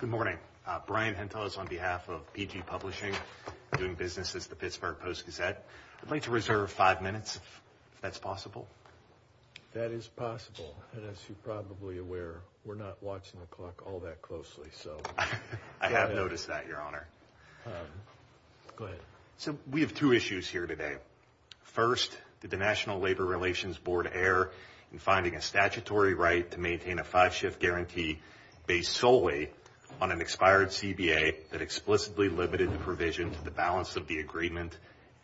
Good morning. Brian Hentos on behalf of PG Publishing doing business as the Pittsburgh Post-Gazette. I'd like to reserve five minutes if that's possible. That is possible and as you're probably aware we're not watching the clock all that closely. So I have noticed that your honor. Go ahead. So we have two issues here today. First did the National Labor Relations Board err in finding a statutory right to maintain a five-shift guarantee based solely on an expired CBA that explicitly limited the provision to the balance of the agreement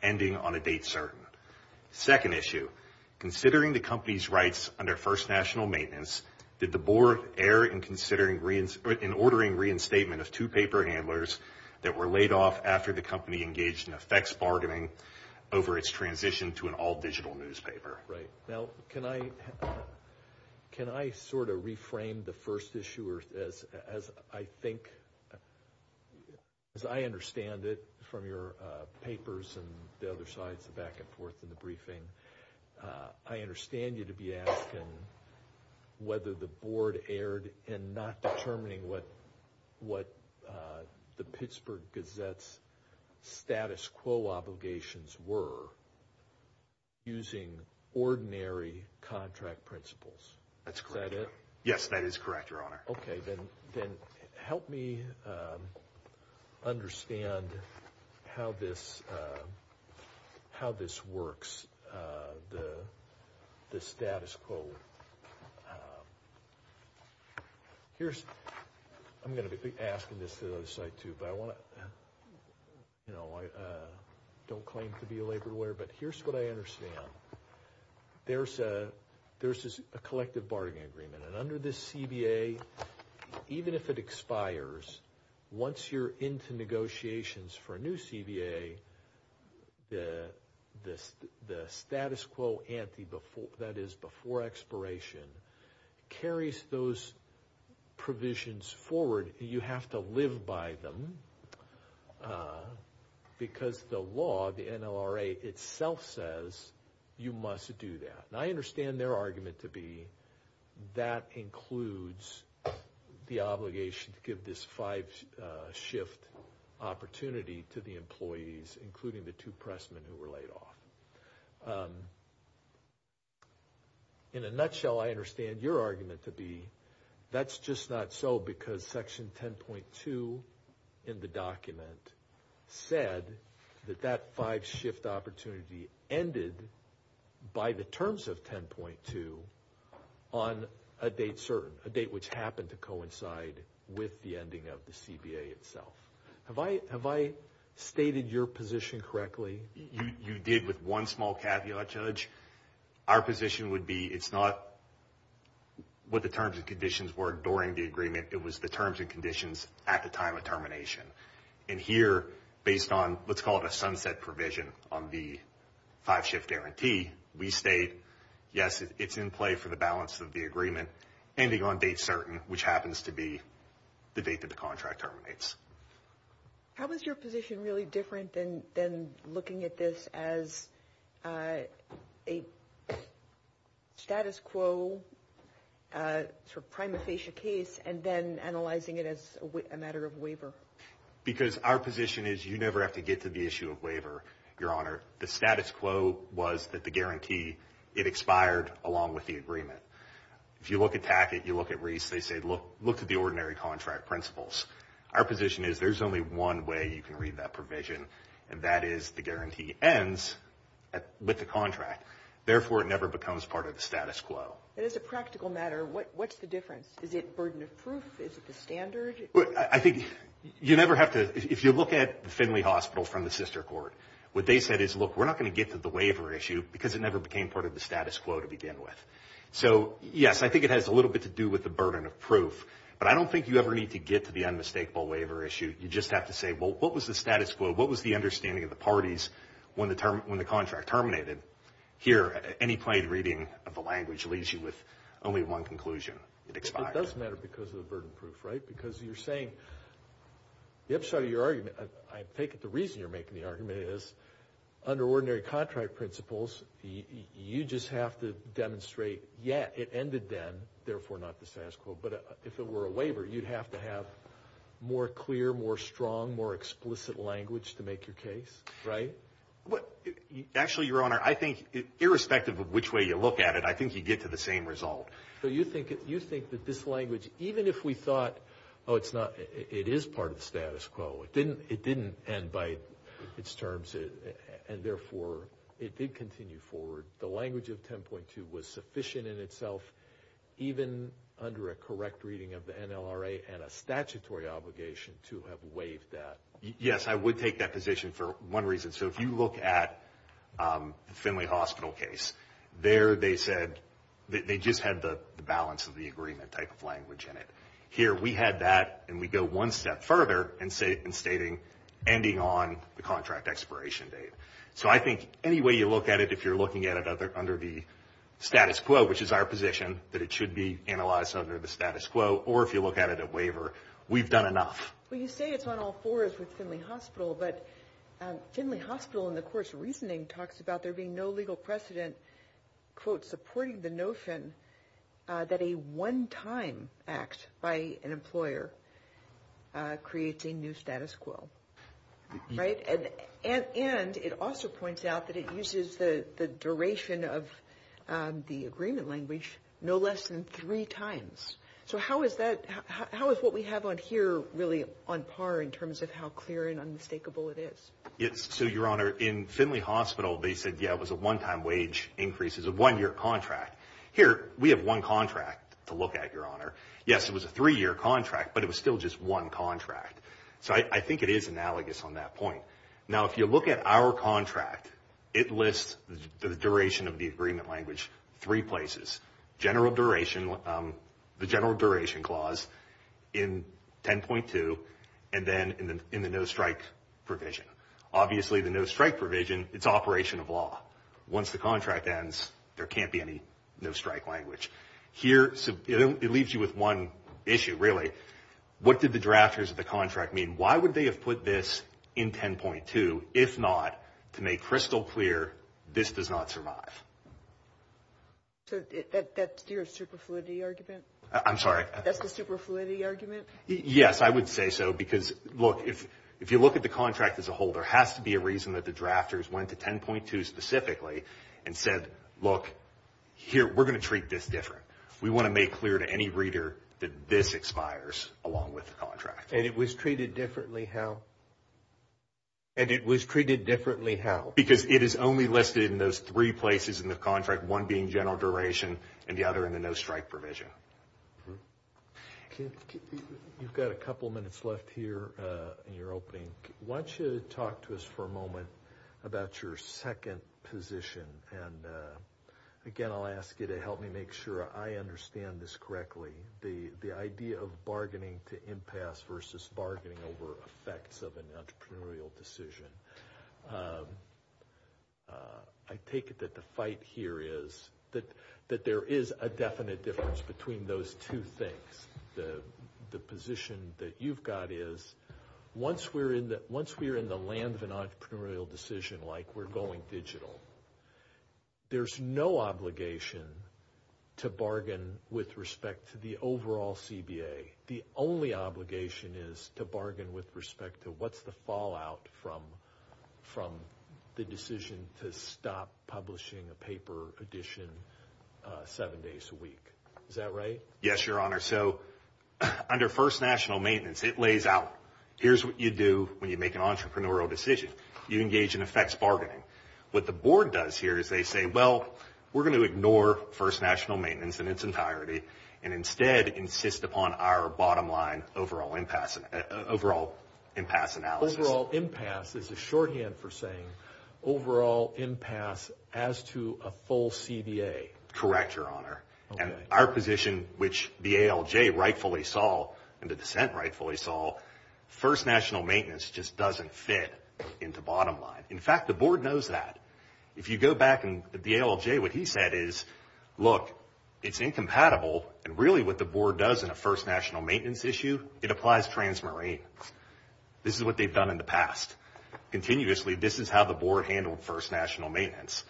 ending on a date certain. Second issue, considering the company's rights under First National Maintenance, did the board err in ordering reinstatement of two paper handlers that were laid off after the company engaged in effects bargaining over its transition to an all-digital newspaper? Right. Now can I can I sort of reframe the first issue as as I think as I understand it from your papers and the other sides of back and forth in the briefing. I understand you to be asking whether the board erred in not determining what uh the Pittsburgh Gazette's status quo obligations were using ordinary contract principles. That's correct. Is that it? Yes that is correct your honor. Okay then then help me um understand how this uh how this works uh the the status quo. Um here's I'm going to be asking this to the other side too but I want to you know I uh don't claim to be a labor lawyer but here's what I understand. There's a there's a collective bargaining agreement and under this CBA even if it expires once you're into negotiations for a new CBA the the the status quo ante before that is before expiration carries those provisions forward. You have to live by them uh because the law the NLRA itself says you must do that and I understand their argument to be that includes the obligation to give this five uh shift opportunity to the employees including the two pressmen who were laid off. In a nutshell I understand your argument to be that's just not so because section 10.2 in the document said that that five shift opportunity ended by the terms of 10.2 on a date certain a date which happened to coincide with the ending of the CBA itself. Have I stated your position correctly? You did with one small caveat judge. Our position would be it's not what the terms and conditions were during the agreement it was the terms and conditions at the time of termination and here based on let's call it a sunset provision on the five shift guarantee we state yes it's in play for the balance of the agreement ending on date certain which happens to be the date that the contract terminates. How is your position really different than than looking at this as uh a status quo uh sort of prima facie case and then analyzing it as a matter of waiver? Because our position is you never have to get to the issue of waiver your honor the status quo was that the guarantee it expired along with the agreement. If you look at packet you look at Reese they say look look at contract principles our position is there's only one way you can read that provision and that is the guarantee ends at with the contract therefore it never becomes part of the status quo. As a practical matter what what's the difference is it burden of proof is it the standard? I think you never have to if you look at the Finley hospital from the sister court what they said is look we're not going to get to the waiver issue because it never became part of the status quo to So yes I think it has a little bit to do with the burden of proof but I don't think you ever need to get to the unmistakable waiver issue you just have to say well what was the status quo what was the understanding of the parties when the term when the contract terminated here any played reading of the language leaves you with only one conclusion it expires. It does matter because of the burden proof right because you're saying the upside of your argument I take it the reason you're making the argument is under ordinary contract principles you just have to demonstrate yet it ended then therefore not the status quo but if it were a waiver you'd have to have more clear more strong more explicit language to make your case right? Actually your honor I think irrespective of which way you look at it I think you get to the same result. So you think you think that this language even if we thought oh it's not it is part of the status quo it didn't it didn't end by its terms and therefore it did continue forward the language of 10.2 was sufficient in itself even under a correct reading of the NLRA and a statutory obligation to have waived that. Yes I would take that position for one reason so if you look at the Finley hospital case there they said that they just had the balance of the agreement type of language in it here we had that and we go one step further and say in stating ending on the contract expiration date so I think any way you look at it if you're looking at it other under the status quo which is our position that it should be analyzed under the status quo or if you look at it a waiver we've done enough. Well you say it's on all fours with Finley hospital but Finley hospital in the course reasoning talks about there being no legal precedent quote supporting the notion that a one-time act by an employer creates a new status quo right and and and it also points out that it uses the the duration of the agreement language no less than three times so how is that how is what we have on here really on par in terms of how clear and unmistakable it is? It's so your in Finley hospital they said yeah it was a one-time wage increases a one-year contract here we have one contract to look at your honor yes it was a three-year contract but it was still just one contract so I think it is analogous on that point now if you look at our contract it lists the duration of the agreement language three places general duration the general duration clause in 10.2 and then in the in the no strike provision obviously the no strike provision it's operation of law once the contract ends there can't be any no strike language here so it leaves you with one issue really what did the drafters of the contract mean why would they have put this in 10.2 if not to make crystal clear this does not survive so that that's your superfluidity argument I'm sorry that's the superfluidity argument yes I would say so because look if if you look at the contract as a whole there has to be a reason that the drafters went to 10.2 specifically and said look here we're going to treat this different we want to make clear to any reader that this expires along with the contract and it was treated differently how and it was treated differently how because it is only listed in those three places in the contract one being general duration and the other in the no strike provision you've got a couple minutes left here uh in your opening why don't you talk to us for a moment about your second position and again I'll ask you to help me make sure I understand this correctly the the idea of bargaining to impasse versus bargaining over effects of an entrepreneurial decision um I take it that the fight here is that that there is a definite difference between those two things the the position that you've got is once we're in that once we're in the land of an entrepreneurial decision like we're going digital there's no obligation to bargain with respect to overall cba the only obligation is to bargain with respect to what's the fallout from from the decision to stop publishing a paper edition uh seven days a week is that right yes your honor so under first national maintenance it lays out here's what you do when you make an entrepreneurial decision you engage in effects bargaining what the board does here is they say well we're going to ignore first national maintenance in its entirety and instead insist upon our bottom line overall impasse overall impasse analysis overall impasse is a shorthand for saying overall impasse as to a full cba correct your honor and our position which the alj rightfully saw and the dissent rightfully saw first national maintenance just doesn't fit into bottom line in fact the board knows that if you go back and the alj what he said is look it's incompatible and really what the board does in a first national maintenance issue it applies transmarine this is what they've done in the past continuously this is how the board handled first national maintenance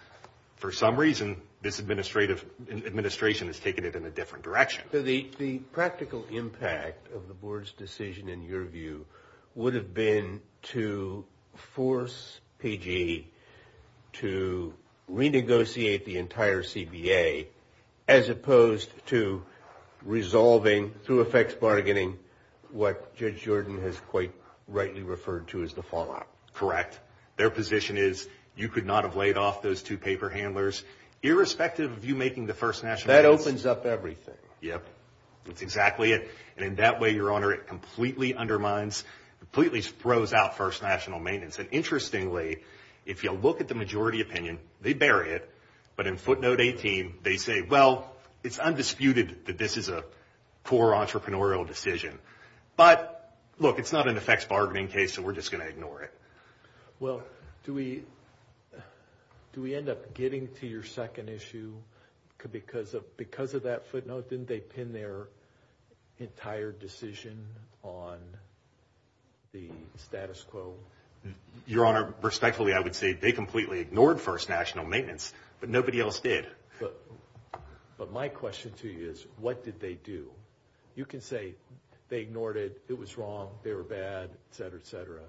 for some reason this administrative administration has taken it in a different direction so the the practical impact of the board's decision in your view would have been to force pg to renegotiate the entire cba as opposed to resolving through effects bargaining what judge jordan has quite rightly referred to as the fallout correct their position is you could not have laid off those two paper handlers irrespective of you making the first national that opens up everything yep that's exactly it and in that way your honor it completely undermines completely throws out first national maintenance and interestingly if you look at the majority opinion they bury it but in footnote 18 they say well it's undisputed that this is a poor entrepreneurial decision but look it's not an effects bargaining case so we're just going to ignore it well do we do we end up getting to your second issue because of because of that footnote didn't they pin their entire decision on the status quo your honor respectfully i would say they completely ignored first national maintenance but nobody else did but my question to you is what did they do you can say they ignored it it was wrong they were bad etc etc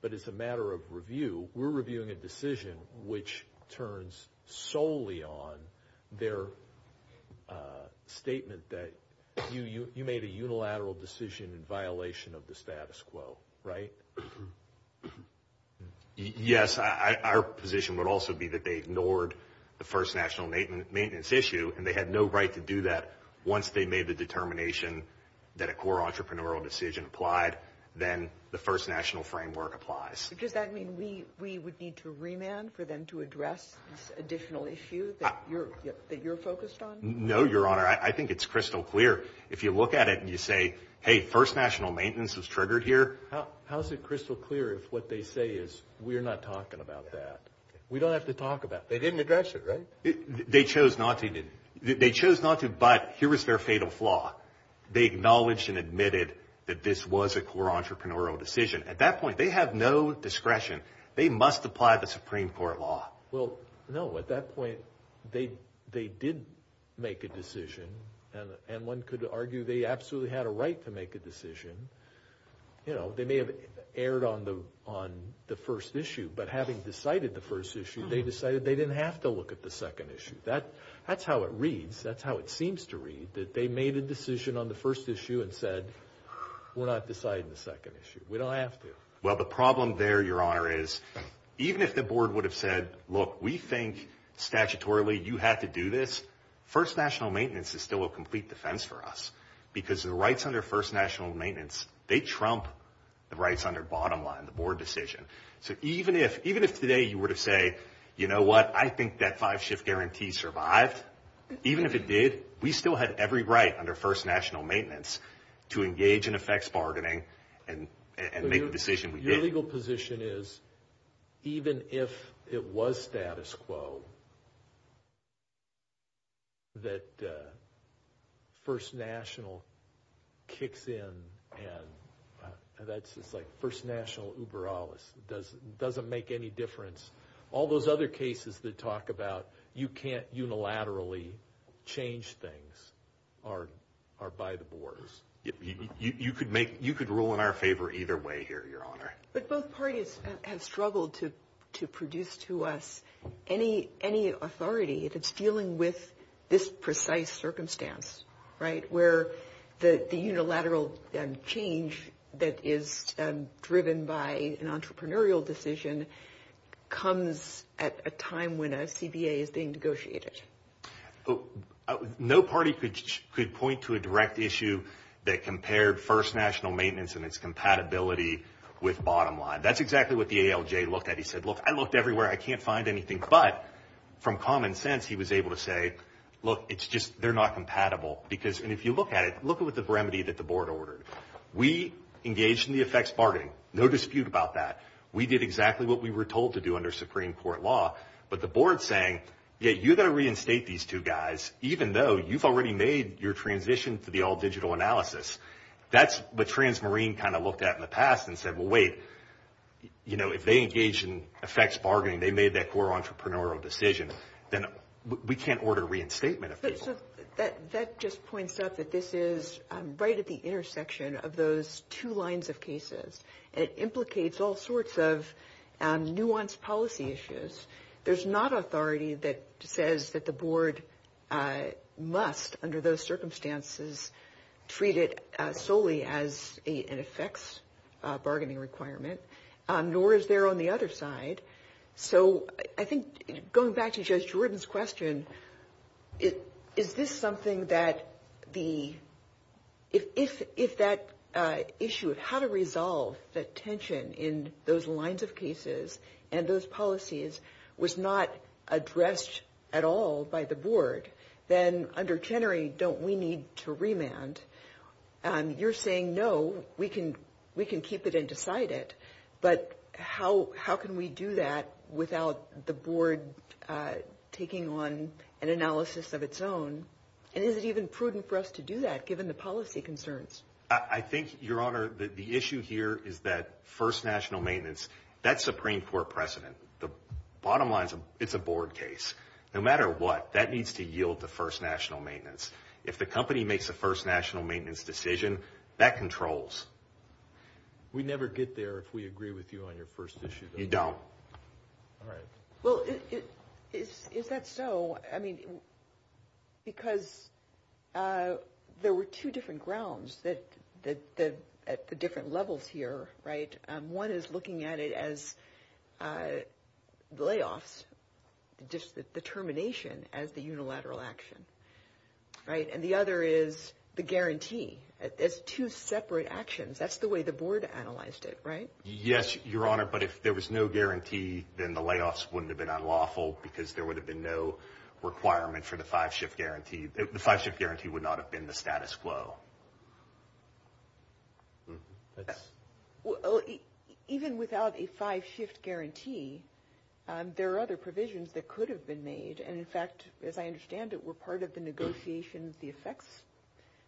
but it's a matter of review we're reviewing a decision which turns solely on their uh statement that you you made a unilateral decision in violation of the status quo right yes i our position would also be that they ignored the first national maintenance issue and they had no right to do that once they made the determination that a core entrepreneurial decision applied then the first national framework applies does that mean we we would need to remand for them to address this additional issue that you're that you're focused on no your honor i think it's crystal clear if you look at it and you say hey first national maintenance was triggered here how is it crystal clear if what they say is we're not talking about that we don't have to talk about they didn't address it right they chose not to they chose not to but here is their fatal flaw they acknowledged and admitted that this was a core entrepreneurial decision at that point they have no discretion they must apply the supreme court law well no at that point they they did make a decision and and one could argue they absolutely had a right to make a decision you know they may have erred on the on the first issue but having decided the first issue they decided they didn't have to look at the second issue that that's how it reads that's how it they made a decision on the first issue and said we're not deciding the second issue we don't have to well the problem there your honor is even if the board would have said look we think statutorily you have to do this first national maintenance is still a complete defense for us because the rights under first national maintenance they trump the rights under bottom line the board decision so even if even if today you were to say you know what i think that five shift guarantee survived even if it did we still had every right under first national maintenance to engage in effects bargaining and and make the decision your legal position is even if it was status quo that uh first national kicks in and that's it's like first national uber alice does doesn't make any difference all those other cases that talk about you can't unilaterally change things are are by the boards you could make you could rule in our favor either way here your honor but both parties have struggled to to produce to us any any authority that's dealing with this precise circumstance right where the the unilateral change that is driven by an entrepreneurial decision comes at a time when a cba is being negotiated no party could could point to a direct issue that compared first national maintenance and its compatibility with bottom line that's exactly what the alj looked at he said look i looked everywhere i can't find anything but from common sense he was able to say look it's just they're not compatible because and if you look at it look with the remedy that the board ordered we engaged in the effects bargaining no dispute about that we did exactly what we were told to do under supreme court law but the board's saying yeah you're going to reinstate these two guys even though you've already made your transition to the all digital analysis that's what transmarine kind of looked at in the past and said well wait you know if they engage in effects bargaining they made that core entrepreneurial decision then we can't order reinstatement that that just points up that this is right at the intersection of those two lines of cases and it implicates all sorts of nuanced policy issues there's not authority that says that the board must under those circumstances treat it solely as a an effects bargaining requirement nor is there on the other so i think going back to judge jordan's question it is this something that the if if if that uh issue of how to resolve the tension in those lines of cases and those policies was not addressed at all by the board then under jennery don't we need to remand um you're saying no we can we can do that without the board uh taking on an analysis of its own and is it even prudent for us to do that given the policy concerns i think your honor the issue here is that first national maintenance that's supreme court precedent the bottom line is it's a board case no matter what that needs to yield the first national maintenance if the company makes the first national maintenance decision that controls we never get there if we agree with you on your first issue you don't all right well is that so i mean because uh there were two different grounds that that that at the different levels here right um one is looking at it as uh layoffs just the termination as the unilateral action right and the other is the guarantee as two separate actions that's the way the board analyzed it right yes your honor but if there was no guarantee then the layoffs wouldn't have been unlawful because there would have been no requirement for the five-shift guarantee the five-shift guarantee would not have been the status quo that's well even without a five-shift guarantee um there are other provisions that could have been made and in fact as i understand it were part of the negotiations the effects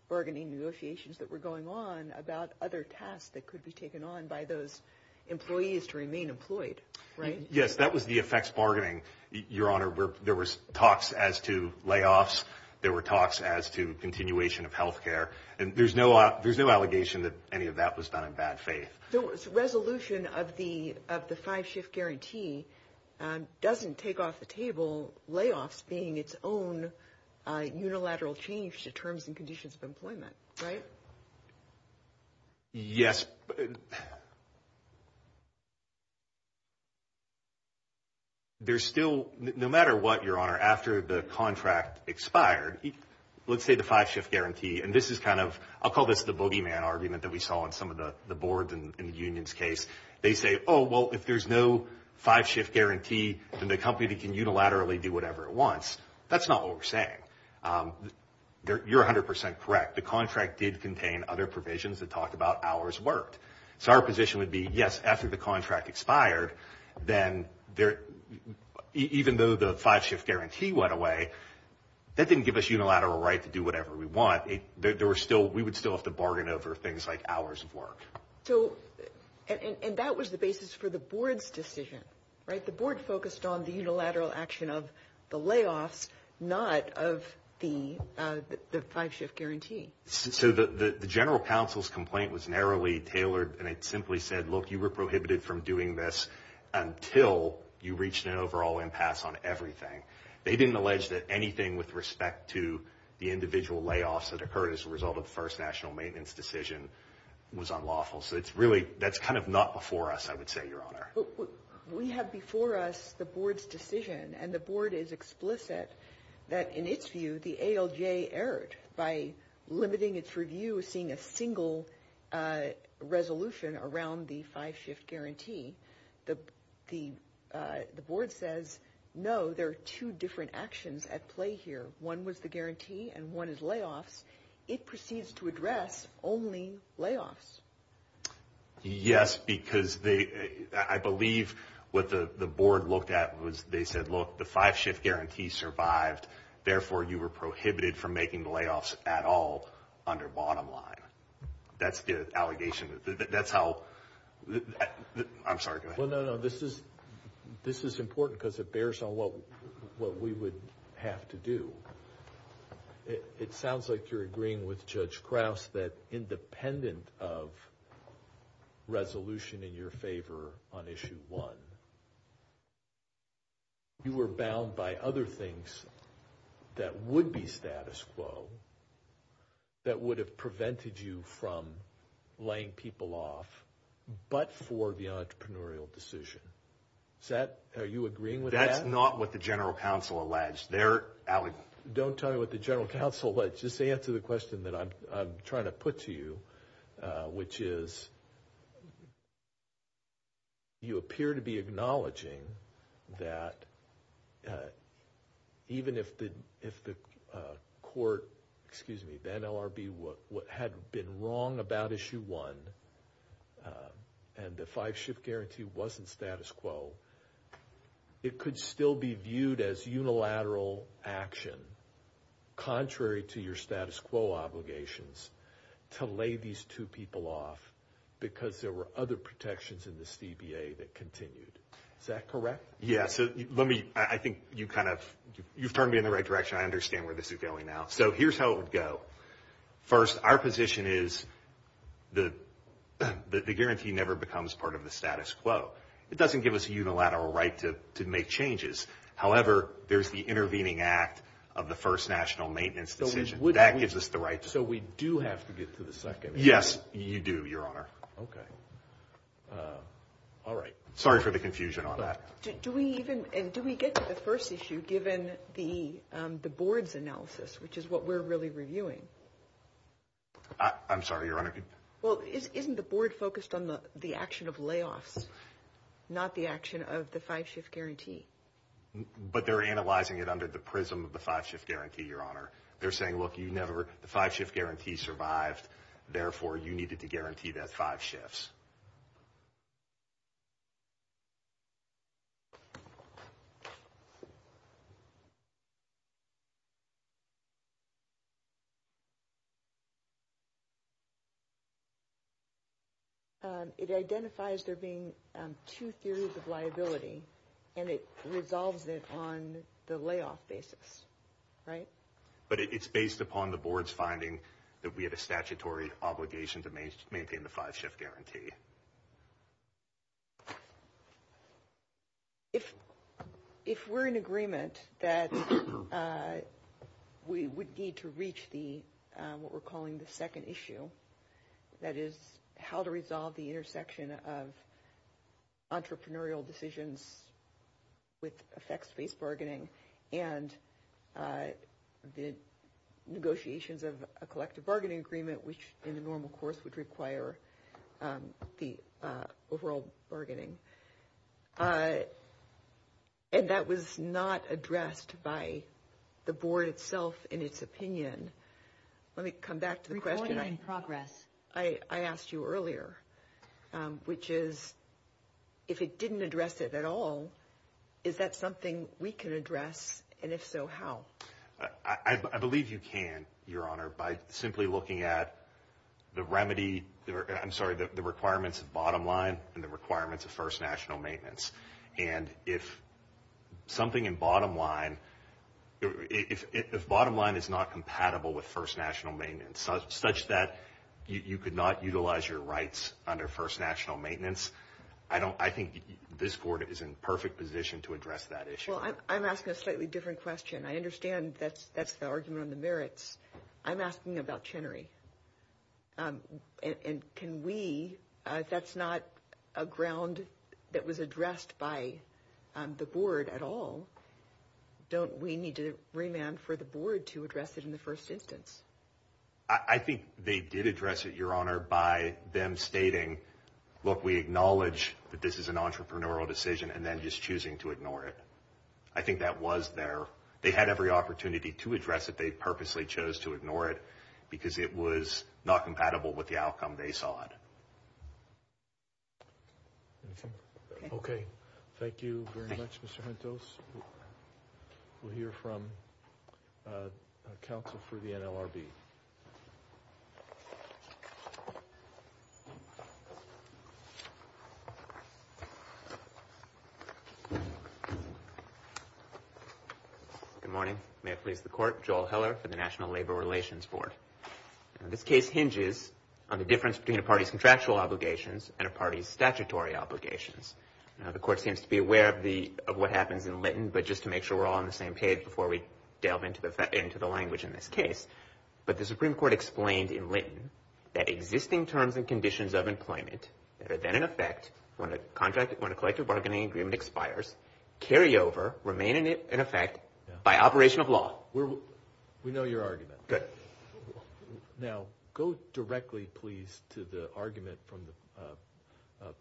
bargaining negotiations that were going on about other tasks that could be taken on by those employees to remain employed right yes that was the effects bargaining your honor where there was talks as to layoffs there were talks as to continuation of health care and there's no there's no allegation that any of that was done in bad faith so it's resolution of the of the five-shift guarantee doesn't take off the table layoffs being its own unilateral change to terms and conditions of employment right yes there's still no matter what your honor after the contract expired let's say the five-shift guarantee and this is kind of i'll call this the bogeyman argument that we saw in some of the the unions case they say oh well if there's no five-shift guarantee then the company can unilaterally do whatever it wants that's not what we're saying um you're 100 correct the contract did contain other provisions that talked about hours worked so our position would be yes after the contract expired then there even though the five-shift guarantee went away that didn't give us unilateral right to do whatever we want there were still we would still have to bargain over things like hours of work so and that was the basis for the board's decision right the board focused on the unilateral action of the layoffs not of the uh the five-shift guarantee so the the general counsel's complaint was narrowly tailored and it simply said look you were prohibited from doing this until you reached an overall impasse on everything they didn't allege that anything with respect to the individual layoffs that occurred as a result of the first national maintenance decision was unlawful so it's really that's kind of not before us i would say your honor we have before us the board's decision and the board is explicit that in its view the alj erred by limiting its review seeing a single uh resolution around the five-shift guarantee the the uh the board says no there are two different actions at play here one was the only layoffs yes because they i believe what the the board looked at was they said look the five-shift guarantee survived therefore you were prohibited from making the layoffs at all under bottom line that's the allegation that's how i'm sorry go ahead well no no this is this is important because it bears on what what we would have to do it sounds like you're agreeing with judge krauss that independent of resolution in your favor on issue one you were bound by other things that would be status quo that would have prevented you from laying people off but for the entrepreneurial decision is that are you agreeing with that's not what the general counsel alleged they're alleging don't tell me what the general counsel just answer the question that i'm trying to put to you which is you appear to be acknowledging that even if the if the court excuse me the nlrb what what had been wrong about issue one and the five-shift guarantee wasn't status quo it could still be viewed as unilateral action contrary to your status quo obligations to lay these two people off because there were other protections in the cba that continued is that correct yeah so let me i think you kind of you've turned me in the right direction i understand where this is going now so here's how it would go first our position is the the guarantee never becomes part of the status quo it doesn't national maintenance decision that gives us the right so we do have to get to the second yes you do your honor okay uh all right sorry for the confusion on that do we even and do we get to the first issue given the um the board's analysis which is what we're really reviewing i'm sorry your honor well isn't the board focused on the the action of layoffs not the action of the five guarantee your honor they're saying look you never the five-shift guarantee survived therefore you needed to guarantee that five shifts it identifies there being two theories of liability and it resolves it on the layoff basis right but it's based upon the board's finding that we had a statutory obligation to maintain the five-shift guarantee if if we're in agreement that uh we would need to reach the what we're calling the second issue that is how to resolve the intersection of the negotiations of a collective bargaining agreement which in the normal course would require the overall bargaining uh and that was not addressed by the board itself in its opinion let me come back to the question in progress i i asked you earlier um which is if it didn't address it at all is that something we can address and if so how i i believe you can your honor by simply looking at the remedy i'm sorry the requirements of bottom line and the requirements of first national maintenance and if something in bottom line if if bottom line is not compatible with first national maintenance such that you could not utilize your rights under first national maintenance i don't i think this board is in perfect position to address that issue well i'm asking a slightly different question i understand that's that's the argument on the merits i'm asking about chenary um and can we uh that's not a ground that was addressed by the board at all don't we need to remand for the board to address it in the first instance i think they did address it your honor by them stating look we acknowledge that this is an entrepreneurial decision and then just choosing to ignore it i think that was there they had every opportunity to address it they purposely chose to ignore it because it was not compatible with the outcome they saw it anything okay thank you very much mr mentos we'll hear from council for the nlrb good morning may i please the court joel heller for the national labor relations board and this case hinges on the difference between a party's contractual obligations and a party's obligations now the court seems to be aware of the of what happens in linton but just to make sure we're all on the same page before we delve into the into the language in this case but the supreme court explained in linton that existing terms and conditions of employment that are then in effect when a contract when a collective bargaining agreement expires carry over remain in it in effect by operation of law we're we know your argument good now go directly please to the argument from the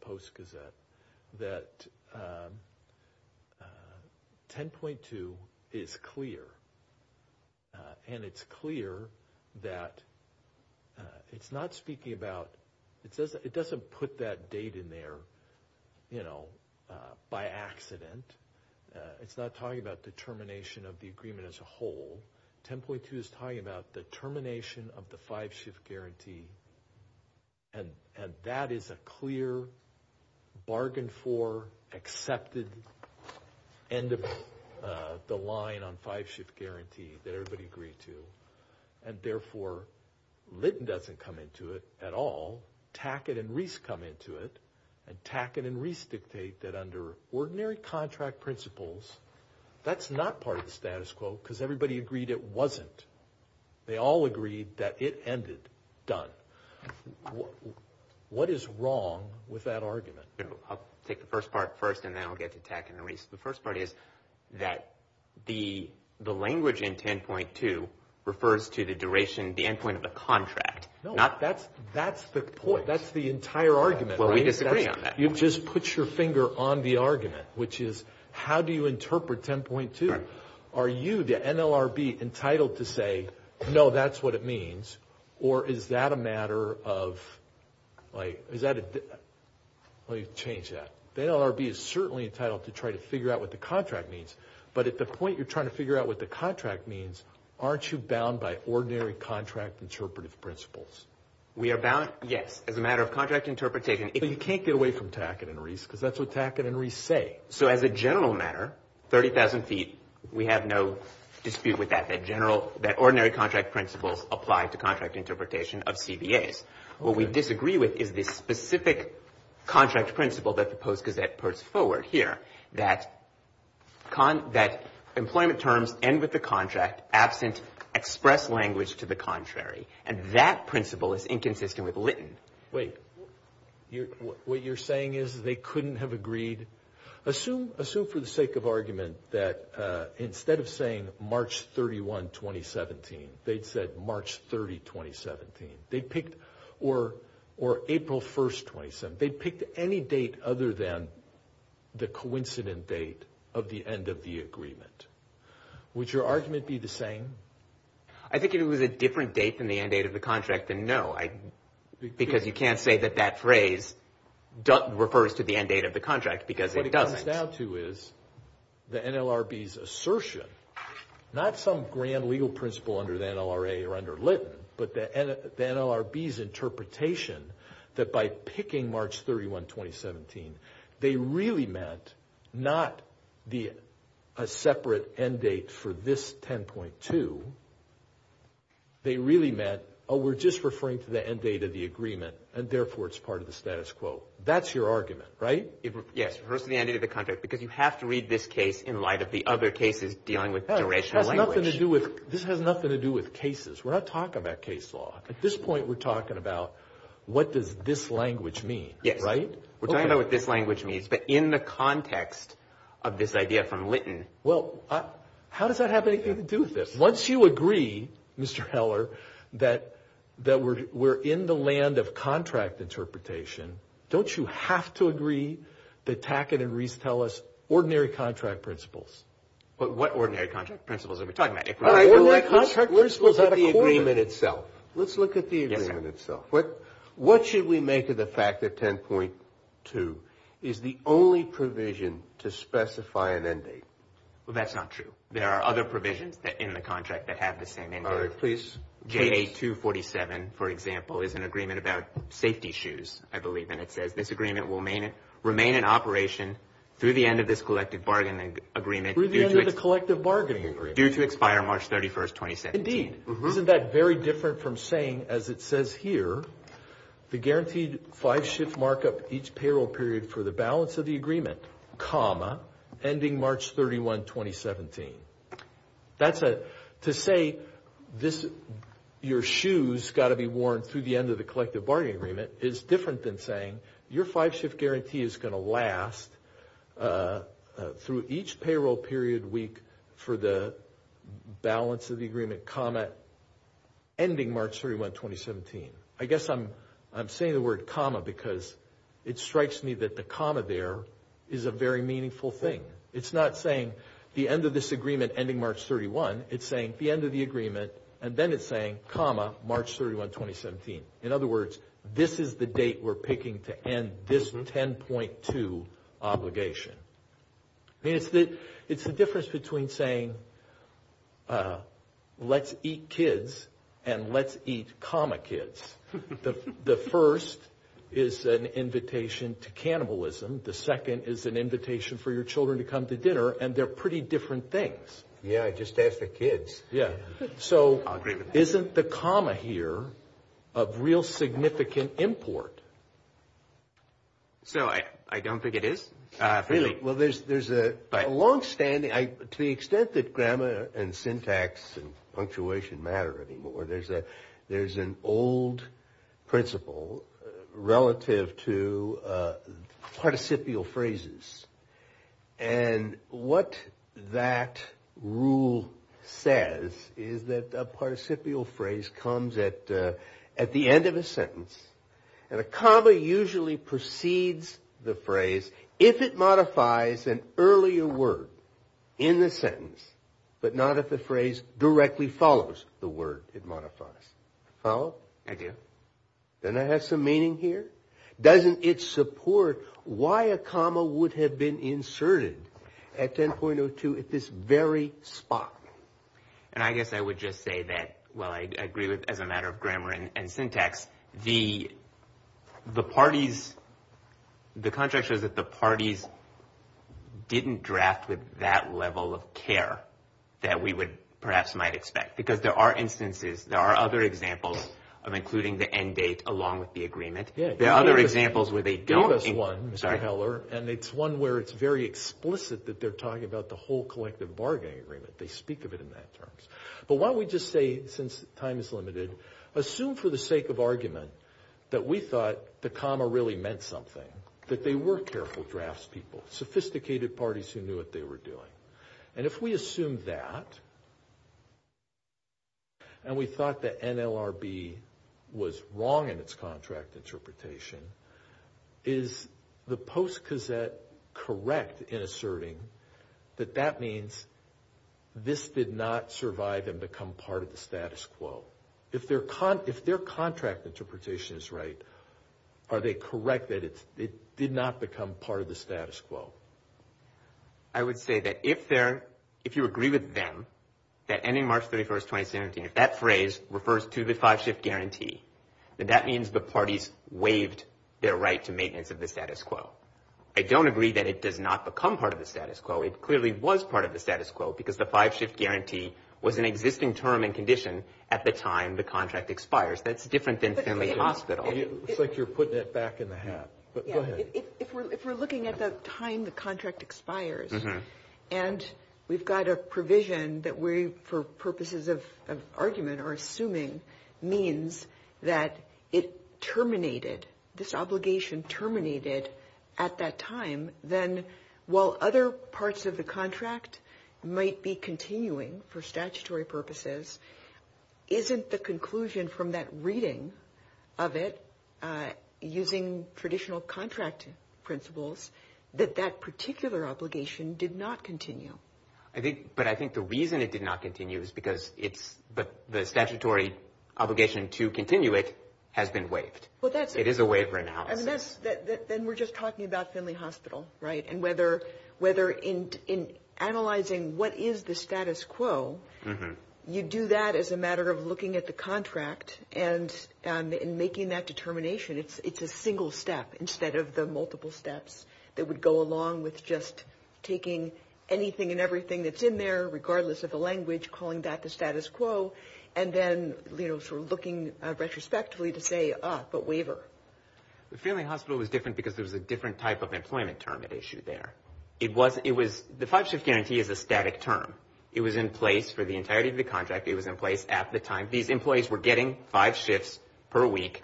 post gazette that 10.2 is clear and it's clear that it's not speaking about it says it doesn't put that date in there you know by accident it's not talking about the termination of the agreement as a whole 10.2 is talking about the termination of the five shift guarantee and and that is a clear bargain for accepted end of the line on five shift guarantee that everybody agreed to and therefore linton doesn't come into it at all tackett and reese come into it and tackett and reese dictate that under ordinary contract principles that's not part of the status because everybody agreed it wasn't they all agreed that it ended done what is wrong with that argument i'll take the first part first and then i'll get to tack and reese the first part is that the the language in 10.2 refers to the duration the endpoint of the contract not that's that's the point that's the entire argument well we disagree on that you just put your finger on the argument which is how do you interpret 10.2 are you the nlrb entitled to say no that's what it means or is that a matter of like is that let me change that the nlrb is certainly entitled to try to figure out what the contract means but at the point you're trying to figure out what the contract means aren't you bound by ordinary contract interpretive principles we are bound yes as a matter of contract interpretation you can't get away from tackett and reese because that's what tackett and reese say so as a general matter 30,000 feet we have no dispute with that that general that ordinary contract principles apply to contract interpretation of cbas what we disagree with is this specific contract principle that the post gazette puts forward here that con that employment terms end with the contract absent express language to the contrary and that principle is inconsistent with lytton wait you're what you're saying is they couldn't have agreed assume assume for the sake of argument that uh instead of saying march 31 2017 they'd said march 30 2017 they picked or or april 1st 27 they picked any date other than the coincident date of the end of the agreement would your argument be the same i think it was a different date than the end date of the contract and no i because you can't say that that phrase refers to the end date of the contract because it doesn't down to is the nlrb's assertion not some grand legal principle under the nlra or under lytton but the nlrb's interpretation that by picking march 31 2017 they really meant not the a separate end date for this 10.2 they really meant oh we're just referring to the end date of the agreement and therefore it's part of the status quo that's your argument right yes first the end of the contract because you have to read this case in light of the other cases dealing with the original language nothing to do with this has nothing to do with cases we're not talking about case law at this point we're talking about what does this language mean yes right we're talking about what this language means but in the context of this idea from lytton well uh how does that have anything to do with this once you agree mr heller that that we're we're in the land of contract interpretation don't you have to agree that tackett and reese tell us ordinary contract principles but what ordinary contract principles are we talking about the agreement itself let's look at the agreement itself what what should we make of the fact that 10.2 is the only provision to specify an end date well that's not true there are other provisions that in the contract that have the same end date please ja247 for example is an agreement about safety shoes i believe and it says this agreement will remain remain in operation through the end of this collective bargaining agreement through the end of the collective bargaining agreement due to expire march 31st 2017 isn't that very different from saying as it says here the guaranteed five shift markup each payroll period for the balance of the that's a to say this your shoes got to be worn through the end of the collective bargaining agreement is different than saying your five shift guarantee is going to last through each payroll period week for the balance of the agreement comma ending march 31 2017 i guess i'm i'm saying the word comma because it strikes me that the comma there is a very meaningful thing it's not saying the end of this agreement ending march 31 it's saying the end of the agreement and then it's saying comma march 31 2017 in other words this is the date we're picking to end this 10.2 obligation i mean it's that it's the difference between saying uh let's eat kids and let's eat comma kids the the first is an invitation to cannibalism the second is an invitation for children to come to dinner and they're pretty different things yeah i just ask the kids yeah so i'll agree with that isn't the comma here of real significant import so i i don't think it is uh really well there's there's a long-standing i to the extent that grammar and syntax and punctuation matter anymore there's a there's an old principle relative to participial phrases and what that rule says is that a participial phrase comes at at the end of a sentence and a comma usually precedes the phrase if it modifies an earlier word in the sentence but not if the phrase directly follows the word it modifies follow i do then i have some meaning here doesn't it support why a comma would have been inserted at 10.02 at this very spot and i guess i would just say that well i agree with as a matter of grammar and syntax the the parties the contract shows that the parties didn't draft with that level of care that we would perhaps might expect because there are instances there are other examples of including the end date along with the agreement there are other examples where they gave us one mr heller and it's one where it's very explicit that they're talking about the whole collective bargaining agreement they speak of it in that terms but why don't we just say since time is limited assume for the sake of argument that we thought the comma really meant something that they were careful drafts people sophisticated parties who knew what they were and if we assume that and we thought that nlrb was wrong in its contract interpretation is the post cassette correct in asserting that that means this did not survive and become part of the status quo if they're con if their contract interpretation is right are they correct that it's it did not become part the status quo i would say that if they're if you agree with them that ending march 31st 2017 if that phrase refers to the five shift guarantee then that means the parties waived their right to maintenance of the status quo i don't agree that it does not become part of the status quo it clearly was part of the status quo because the five shift guarantee was an existing term and condition at the time the contract expires that's different than finley hospital it's like you're looking at the time the contract expires and we've got a provision that we for purposes of argument are assuming means that it terminated this obligation terminated at that time then while other parts of the contract might be continuing for statutory purposes isn't the that particular obligation did not continue i think but i think the reason it did not continue is because it's but the statutory obligation to continue it has been waived well that's it is a waiver analysis that then we're just talking about finley hospital right and whether whether in in analyzing what is the status quo you do that as a matter of looking at the contract and in making that determination it's it's a single step instead of the multiple steps that would go along with just taking anything and everything that's in there regardless of the language calling that the status quo and then you know sort of looking retrospectively to say uh but waiver the family hospital was different because there was a different type of employment term at issue there it wasn't it was the five shift guarantee is a static term it was in place for the entirety of the contract it was in place at the time these employees were getting five shifts per week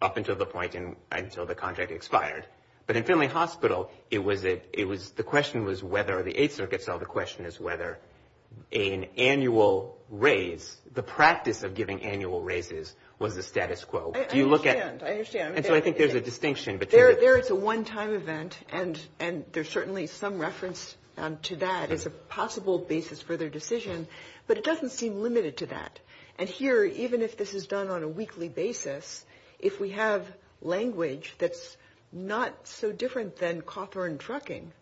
up until the point in until the contract expired but in finley hospital it was it it was the question was whether the eighth circuit cell the question is whether an annual raise the practice of giving annual raises was the status quo do you look at i understand and so i think there's a distinction between there it's a one-time event and and there's certainly some reference to that as a basis for their decision but it doesn't seem limited to that and here even if this is done on a weekly basis if we have language that's not so different than cawthorn trucking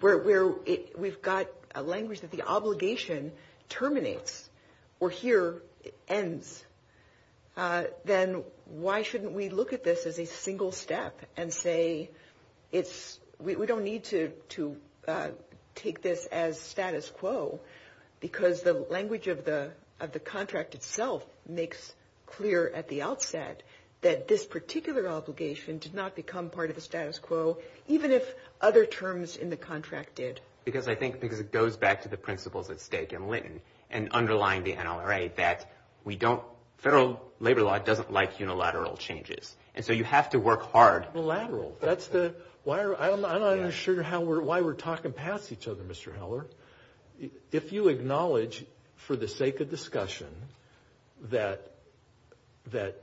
where we're it we've got a language that the obligation terminates or here ends uh then why shouldn't we look at this as a single step and say it's we don't need to to take this as status quo because the language of the of the contract itself makes clear at the outset that this particular obligation did not become part of the status quo even if other terms in the contract did because i think because it goes back to the principles at stake in linton and underlying the unilateral changes and so you have to work hard the lateral that's the why i'm not sure how we're why we're talking past each other mr heller if you acknowledge for the sake of discussion that that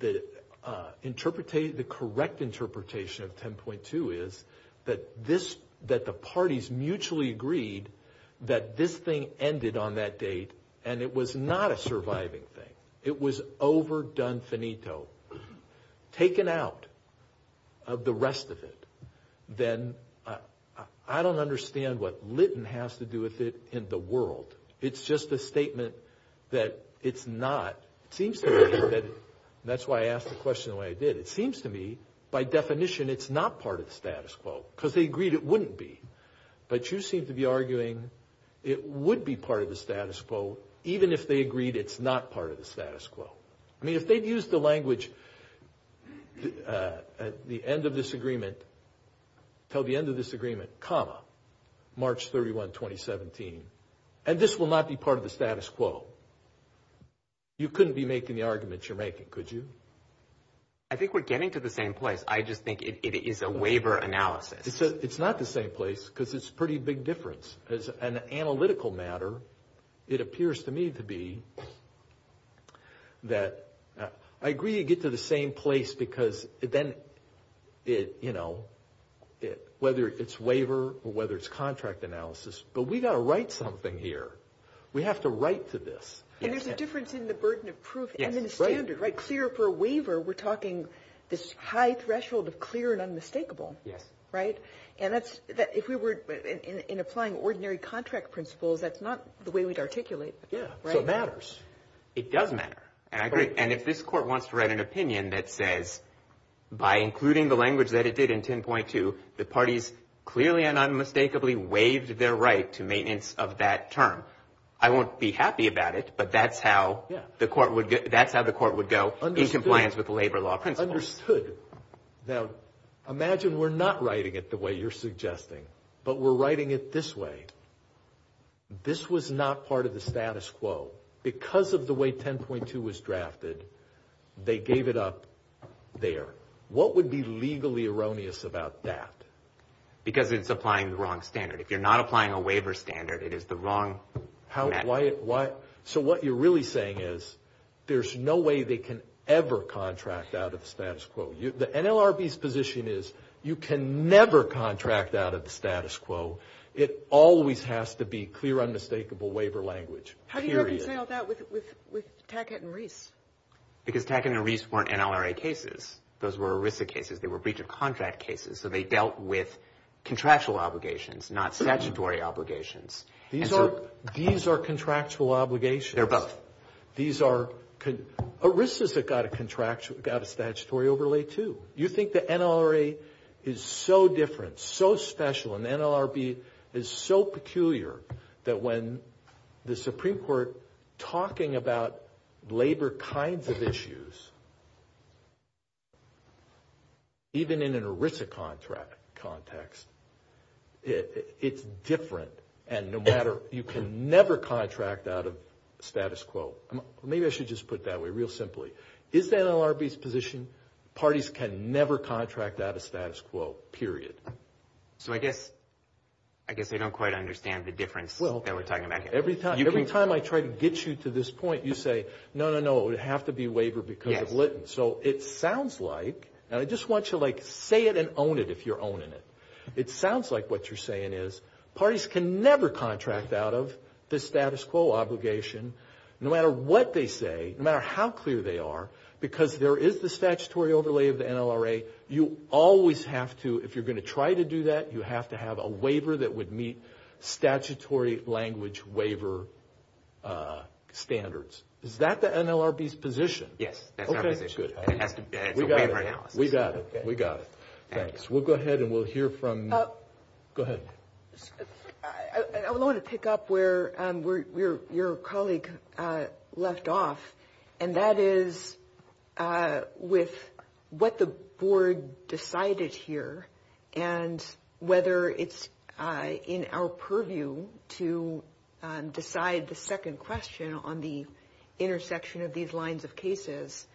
the uh interpreted the correct interpretation of 10.2 is that this that the parties mutually agreed that this thing ended on that date and it was not a surviving thing it was over done finito taken out of the rest of it then i i don't understand what linton has to do with it in the world it's just a statement that it's not it seems to me that that's why i asked the question the way i did it seems to me by definition it's not part of the status quo because they agreed it wouldn't be but you seem to be arguing it would be part of the status quo even if they agreed it's not part of the status quo i mean if they'd use the language uh at the end of this agreement till the end of this agreement comma march 31 2017 and this will not be part of the status quo you couldn't be making the arguments you're making could you i think we're getting to the same place i just think it is a waiver analysis it's not the same place because it's pretty big difference as an analytical matter it appears to me to be that i agree you get to the same place because then it you know it whether it's waiver or whether it's contract analysis but we gotta write something here we have to write to this and there's a difference in the burden of proof and then the standard right clear for a waiver we're talking this high in applying ordinary contract principles that's not the way we'd articulate yeah so it matters it does matter and i agree and if this court wants to write an opinion that says by including the language that it did in 10.2 the parties clearly and unmistakably waived their right to maintenance of that term i won't be happy about it but that's how yeah the court would that's how the court would go in compliance with the labor law principle understood now imagine we're not writing it the way you're suggesting but we're writing it this way this was not part of the status quo because of the way 10.2 was drafted they gave it up there what would be legally erroneous about that because it's applying the wrong standard if you're not applying a waiver standard it is the wrong how why why so what you're really saying is there's no way they can ever contract out of the status quo you the nlrb's position is you can never contract out of the status quo it always has to be clear unmistakable waiver language how do you reconcile that with with with tackett and reese because tackett and reese weren't nlra cases those were erisa cases they were breach of contract cases so they dealt with contractual obligations not statutory obligations these are these are contractual obligations they're both these are erisa's that got a contractual got a statutory overlay too you think the nlra is so different so special and the nlrb is so peculiar that when the supreme court talking about labor kinds of issues even in an erisa contract context it it's different and no matter you can never contract out status quo maybe i should just put that way real simply is the nlrb's position parties can never contract out of status quo period so i guess i guess they don't quite understand the difference well that we're talking about every time every time i try to get you to this point you say no no it would have to be waiver because of linton so it sounds like and i just want you to like say it and own it if you're owning it it sounds like what you're saying is parties can never contract out of the status quo obligation no matter what they say no matter how clear they are because there is the statutory overlay of the nlra you always have to if you're going to try to do that you have to have a waiver that would meet statutory language waiver uh standards is that the nlrb's position yes that's good we got it we got it we got it thanks we'll go ahead and we'll hear from go ahead i i want to pick up where um where your your colleague uh left off and that is uh with what the board decided here and whether it's uh in our purview to decide the second question on the intersection of these lines of cases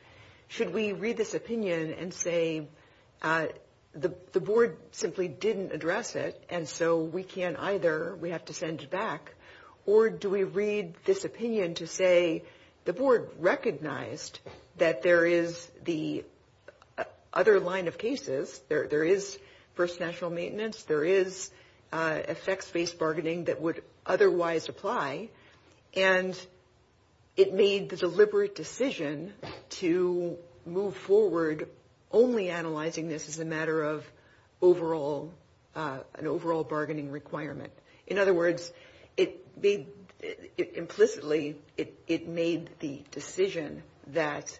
should we read this opinion and say uh the the board simply didn't address it and so we can't either we have to send it back or do we read this opinion to say the board recognized that there is the other line of cases there there is first national maintenance there is uh effects-based bargaining that would is a matter of overall uh an overall bargaining requirement in other words it made implicitly it it made the decision that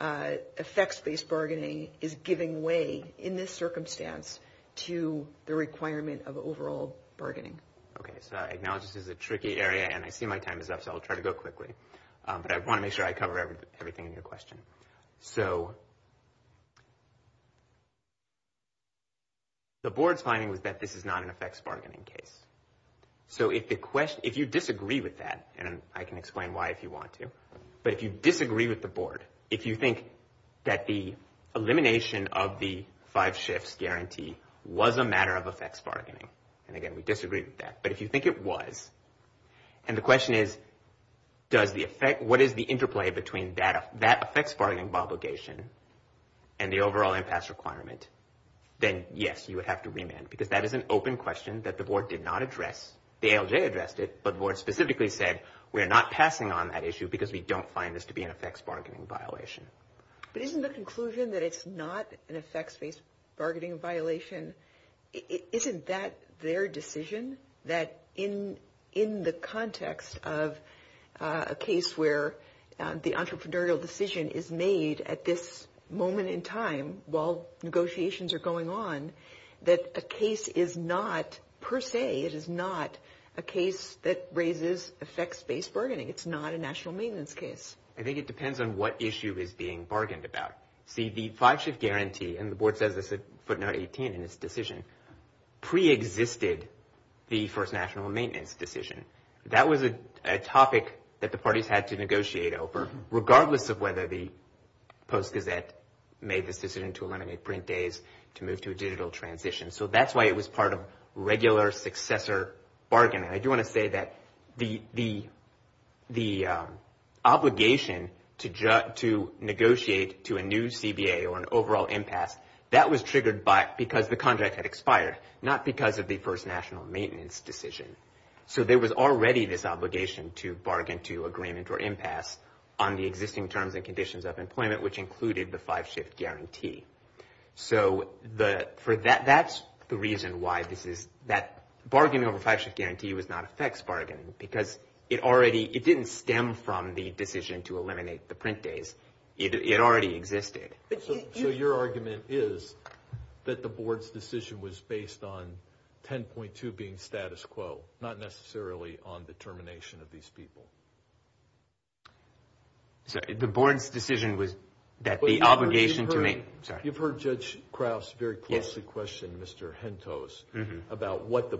uh effects-based bargaining is giving way in this circumstance to the requirement of overall bargaining okay so i acknowledge this is a tricky area and i see my time is up so i'll try to go quickly but i want to make sure i cover everything in your question so the board's finding was that this is not an effects bargaining case so if the question if you disagree with that and i can explain why if you want to but if you disagree with the board if you think that the elimination of the five shifts guarantee was a matter of effects bargaining and again we disagree with that but if you think it was and the question is does the effect what is the interplay between that that affects bargaining obligation and the overall impasse requirement then yes you would have to remand because that is an open question that the board did not address the alj addressed it but the board specifically said we're not passing on that issue because we don't find this to be an effects bargaining violation but isn't the conclusion that it's not an effects-based bargaining violation isn't that their decision that in in the context of a case where the entrepreneurial decision is made at this moment in time while negotiations are going on that a case is not per se it is not a case that raises effects-based bargaining it's not a national maintenance case i think it depends on what issue is being bargained about see the five shift guarantee and the board says this at 9 18 in this decision pre-existed the first national maintenance decision that was a topic that the parties had to negotiate over regardless of whether the post gazette made this decision to eliminate print days to move to a digital transition so that's why it was part of regular successor bargaining i do want to say that the the the um obligation to judge to negotiate to a new cba or an overall impasse that was triggered by because the contract had expired not because of the first national maintenance decision so there was already this obligation to bargain to agreement or impasse on the existing terms and conditions of employment which included the five shift guarantee so the for that that's the reason why this is that bargaining over five shift guarantee was not effects bargaining because it already it didn't stem from the decision to pre-existed but so your argument is that the board's decision was based on 10.2 being status quo not necessarily on the termination of these people so the board's decision was that the obligation to me sorry you've heard judge krauss very closely questioned mr jentos about what the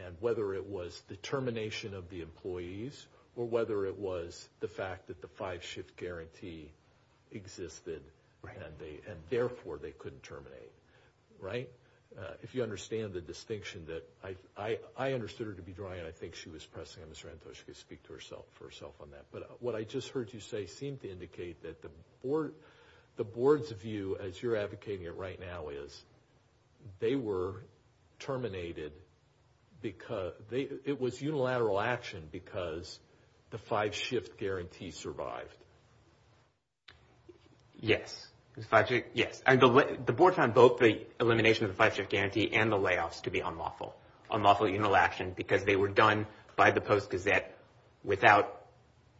or whether it was the fact that the five shift guarantee existed and they and therefore they couldn't terminate right if you understand the distinction that i i i understood her to be dry and i think she was pressing on mr jentos she could speak to herself for herself on that but what i just heard you say seemed to indicate that the board the board's view as you're advocating it right now is they were terminated because they it was unilateral action because the five shift guarantee survived yes it's five yes and the board found both the elimination of the five shift guarantee and the layoffs to be unlawful unlawful unilateral action because they were done by the post gazette without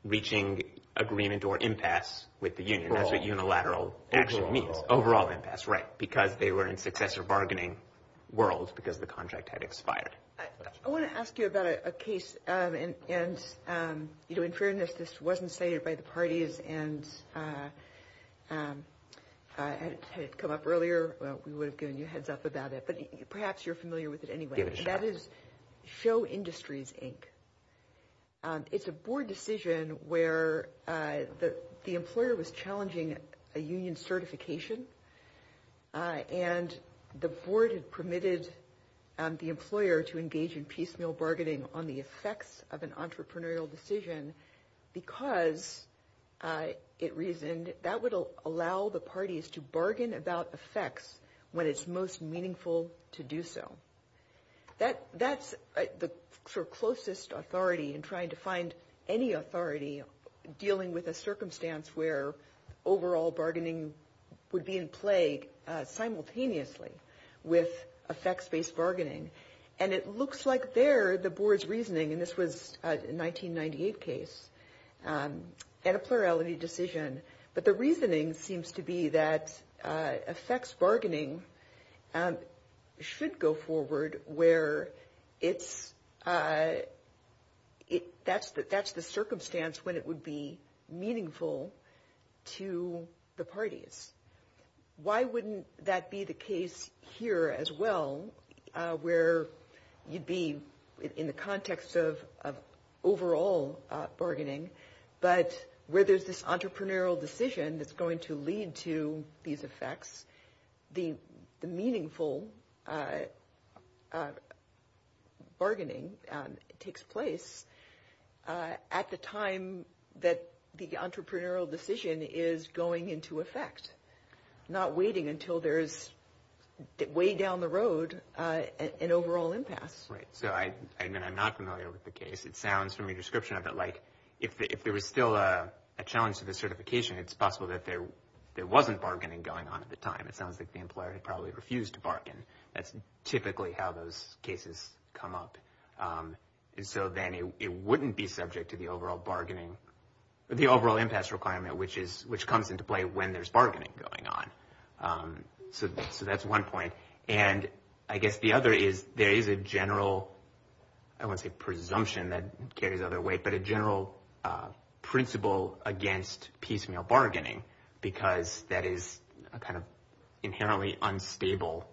reaching agreement or impasse with the union that's what unilateral action means overall impasse right because they were in successor bargaining world because the contract had expired i want to ask you about a case um and and um you know in fairness this wasn't cited by the parties and uh um uh had it come up earlier well we would have given you a heads up about it but perhaps you're familiar with it anyway that is show industries inc um it's a board decision where uh the the employer was challenging a union certification uh and the board had permitted um the employer to engage in piecemeal bargaining on the effects of an entrepreneurial decision because uh it reasoned that would allow the parties to bargain about effects when it's most meaningful to do so that that's the closest authority in trying to find any authority dealing with a circumstance where overall bargaining would be in plague simultaneously with effects-based bargaining and it looks like they're the board's reasoning and this was a 1998 case um and a plurality decision but the reasoning seems to be that effects bargaining um should go forward where it's uh it that's that that's the circumstance when it would be meaningful to the parties why wouldn't that be the case here as well where you'd be in the context of of overall bargaining but where there's this entrepreneurial decision that's going to lead to these effects the the meaningful uh uh bargaining um takes place at the time that the entrepreneurial decision is going into effect not waiting until there's way down the road uh an overall impasse right so i i mean i'm not familiar with the case it sounds from your description of it like if there was still a challenge to the certification it's possible that there there wasn't bargaining going on at the time it sounds like the employer had probably refused to bargain that's typically how those cases come up um and so then it wouldn't be subject to the overall bargaining the overall impasse requirement which is which comes into when there's bargaining going on um so so that's one point and i guess the other is there is a general i won't say presumption that carries other weight but a general uh principle against piecemeal bargaining because that is a kind of inherently unstable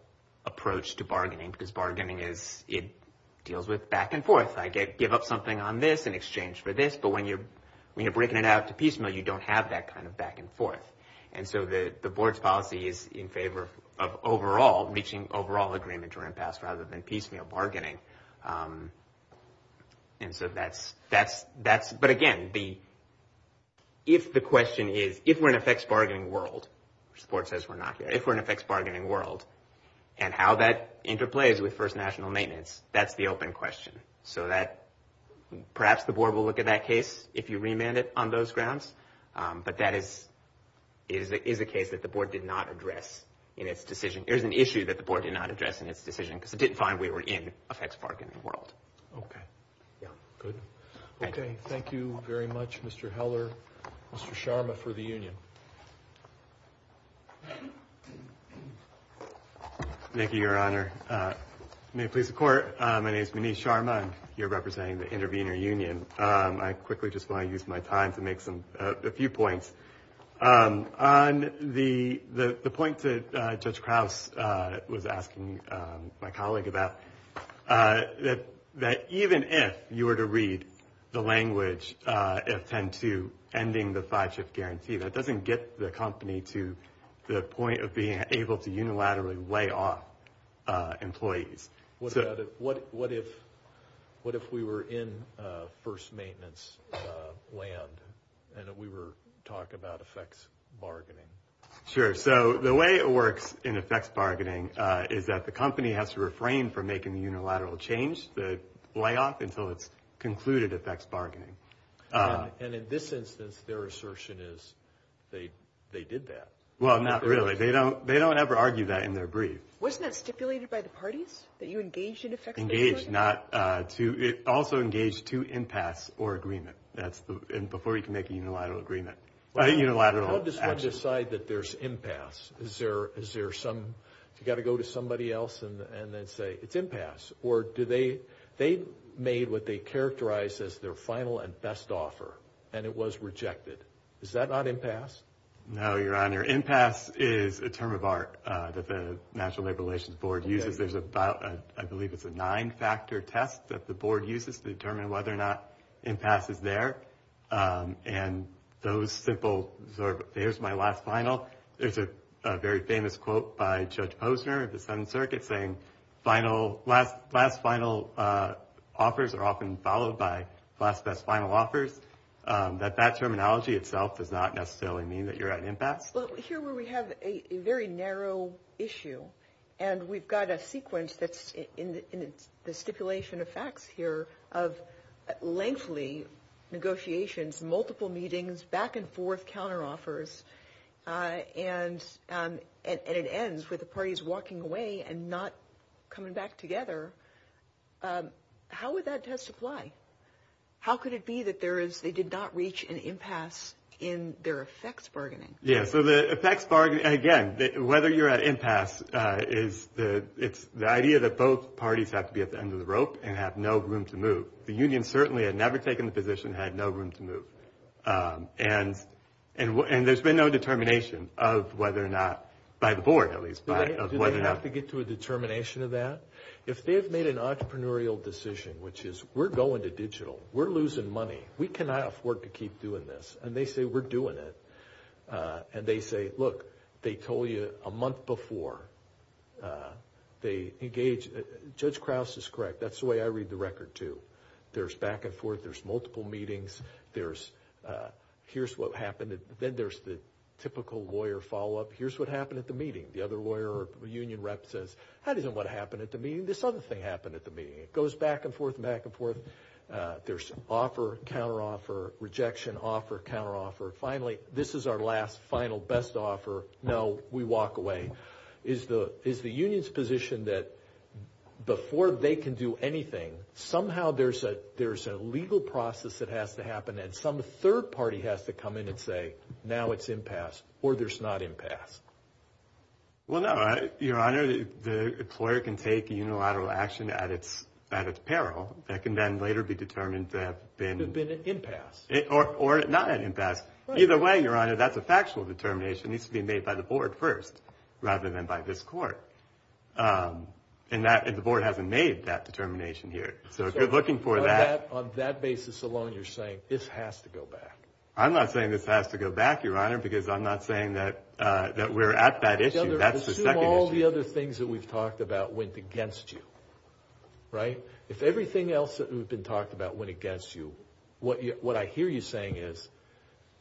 approach to bargaining because bargaining is it deals with back and forth i get give up something on this in exchange for this but when you're when you're breaking it out to piecemeal you don't have that kind of back and forth and so the the board's policy is in favor of overall reaching overall agreement or impasse rather than piecemeal bargaining um and so that's that's that's but again the if the question is if we're in effects bargaining world which the board says we're not here if we're in effects bargaining world and how that interplays with first national maintenance that's the open question so that perhaps the board will look at that case if you remand it on those grounds but that is is it is a case that the board did not address in its decision there's an issue that the board did not address in its decision because it didn't find we were in effects bargaining world okay yeah good okay thank you very much mr heller mr sharma for the union thank you your honor uh may it please the court uh my name is muniz sharma and you're representing the intervener union um i quickly just want to use my time to make some a few points um on the the the point that uh judge kraus uh was asking um my colleague about uh that that even if you were to read the language uh f10 to ending the five shift guarantee that doesn't get the company to the point of being able to unilaterally lay off uh employees what about it what what if what if we were in uh first maintenance uh land and we were talking about effects bargaining sure so the way it works in effects bargaining uh is that the company has to refrain from making the unilateral change the layoff until it's concluded effects bargaining and in this instance their assertion is they they did that well not really they don't they don't ever argue that in their brief wasn't that stipulated by the parties that you engaged not uh to it also engaged to impasse or agreement that's the and before you can make a unilateral agreement a unilateral decide that there's impasse is there is there some you got to go to somebody else and and then say it's impasse or do they they made what they characterize as their final and best offer and it was rejected is that not impasse no your honor impasse is a term of art that the national labor relations board uses there's about a i believe it's a nine factor test that the board uses to determine whether or not impasse is there um and those simple there's my last final there's a very famous quote by judge posner of the seventh circuit saying final last last final uh offers are often followed by last best final offers um that that terminology itself does not necessarily mean that you're at impasse well here where we have a very narrow issue and we've got a sequence that's in the stipulation of facts here of lengthy negotiations multiple meetings back and forth counter offers uh and um and it ends with the parties walking away and not coming back together um how would that test apply how could it be that there is they did not reach an impasse in their effects bargaining yeah so the effects bargain again whether you're at impasse uh is the it's the idea that both parties have to be at the end of the rope and have no room to move the union certainly had never taken the position had no room to move um and and and there's been no determination of whether or not by the board at least by whether or not to get to a determination of that if they've made an entrepreneurial decision which is we're going to digital we're losing money we cannot afford to keep doing this and they say we're doing it uh and they say look they told you a month before uh they engage judge kraus is correct that's the way i read the record too there's back and forth there's multiple meetings there's uh here's what happened then there's the typical lawyer follow-up here's what happened at the meeting the other lawyer or union rep says how does it what happened at the meeting this other happened at the meeting it goes back and forth back and forth uh there's offer counter offer rejection offer counter offer finally this is our last final best offer no we walk away is the is the union's position that before they can do anything somehow there's a there's a legal process that has to happen and some third party has to come in and say now it's impasse or there's not impasse well no your honor the employer can take a unilateral action at its at its peril that can then later be determined to have been an impasse or or not an impasse either way your honor that's a factual determination needs to be made by the board first rather than by this court um and that if the board hasn't made that determination here so if you're looking for that on that basis alone you're saying this has to go back i'm not saying this has to go back your honor because i'm not saying that uh that we're at that issue that's all the other things that we've talked about went against you right if everything else that we've been talked about went against you what what i hear you saying is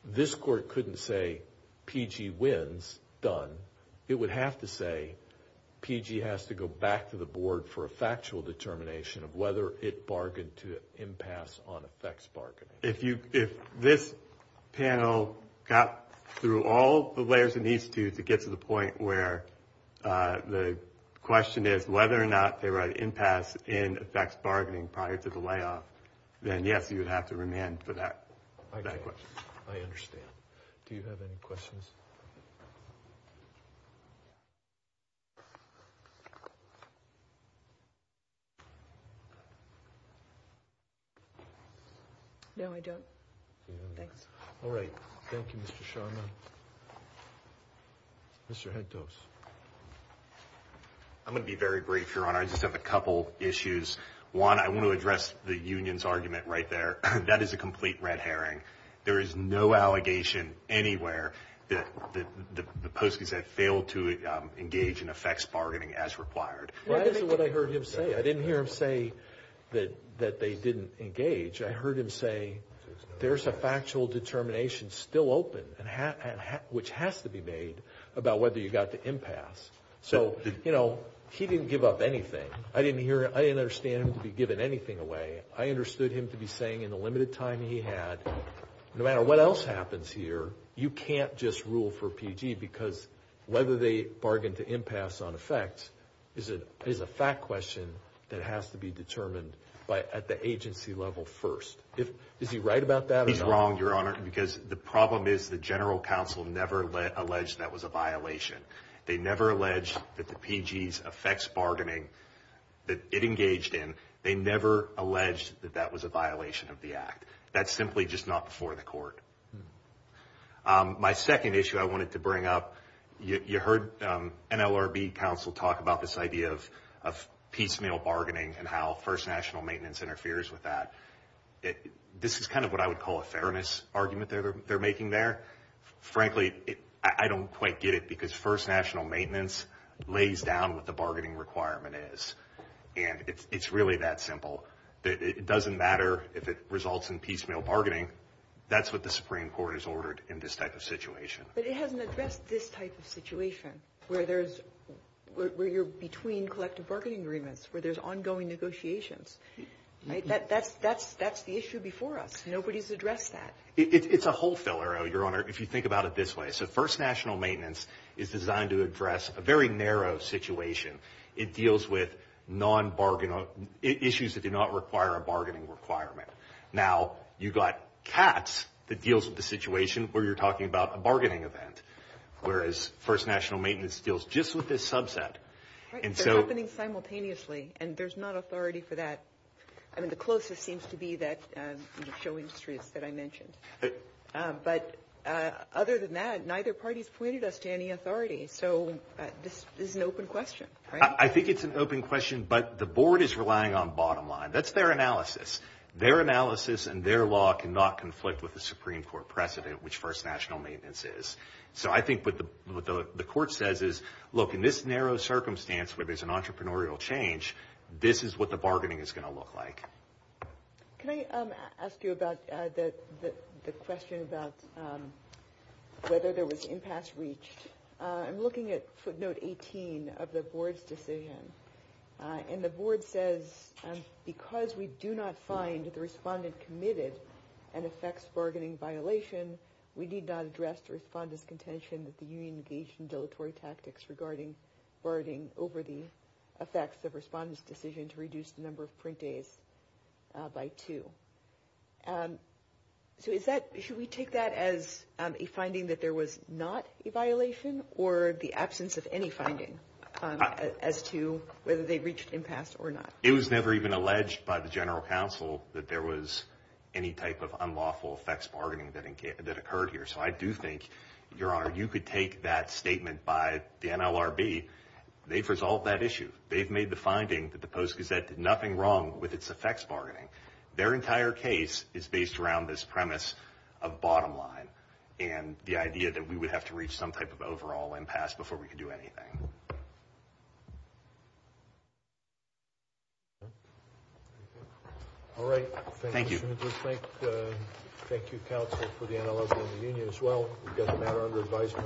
this court couldn't say pg wins done it would have to say pg has to go back to the board for a factual determination of whether it bargained to impasse on effects bargaining if you if this panel got through all the layers it needs to to get to the point where uh the question is whether or not they write impasse in effects bargaining prior to the layoff then yes you would have to remand for that i think i understand do you have any questions no i don't thanks all right thank you mr sharma mr head toast i'm going to be very brief your honor i just have a couple issues one i want to address the union's argument right there that is a complete red herring there is no allegation anywhere that the the posties that failed to engage in effects bargaining as required well this is what i heard him say i didn't hear him say that that they didn't engage i heard him say there's a factual determination still open and which has to be made about whether you got the impasse so you know he didn't give up anything i didn't hear it i didn't understand him to be given anything away i understood him to be saying in the limited time he had no matter what else happens here you can't just rule for pg because whether they bargain to impasse on effect is it is a fact question that has to be determined by at the agency level first if is he right about that he's wrong your honor because the problem is the general council never alleged that was a violation they never alleged that the pgs effects bargaining that it engaged in they never alleged that that was a violation of the act that's simply just not before the court my second issue i wanted to bring up you heard um nlrb council talk about this idea of of piecemeal bargaining and how first national maintenance interferes with that it this is kind of what i would call a fairness argument they're they're making there frankly i don't quite get it because first national maintenance lays down what the bargaining requirement is and it's it's really that simple that it doesn't matter if it results in piecemeal bargaining that's what the supreme court has ordered in this type of situation but it hasn't addressed this type of situation where there's where you're between collective bargaining agreements where there's ongoing negotiations right that that's that's that's the issue before us nobody's addressed that it's a whole filler oh your honor if you think about it this way so first national maintenance is designed to address a very narrow situation it deals with non-bargain issues that do not require a bargaining requirement now you got cats that deals with the situation where you're talking about a bargaining event whereas first national maintenance deals just with this subset and so happening simultaneously and there's not authority for that i mean the closest seems to be that um show industries that i mentioned but uh other than that neither party's pointed us to any authority so this is an open question i think it's an open question but the board is relying on bottom line that's their analysis their analysis and their law cannot conflict with the supreme court precedent which first national maintenance is so i think what the what the court says is look in this narrow circumstance where there's an entrepreneurial change this is what the bargaining is going to look like can i um ask you about uh the the question about um whether there was impasse uh i'm looking at footnote 18 of the board's decision uh and the board says because we do not find the respondent committed and affects bargaining violation we need not address the respondent's contention that the union engaged in dilatory tactics regarding bargaining over the effects of respondents decision to reduce the number of print days by two um so is that should we take that as a finding that there was not a violation or the absence of any finding um as to whether they reached impasse or not it was never even alleged by the general counsel that there was any type of unlawful effects bargaining that in that occurred here so i do think your honor you could take that statement by the nlrb they've resolved that issue they've made the finding that the post gazette did nothing wrong with its effects bargaining their entire case is based around this premise of bottom line and the idea that we would have to reach some type of overall impasse before we could do anything all right thank you thank you counsel for the analyzer in the union as well we've got the matter under advisement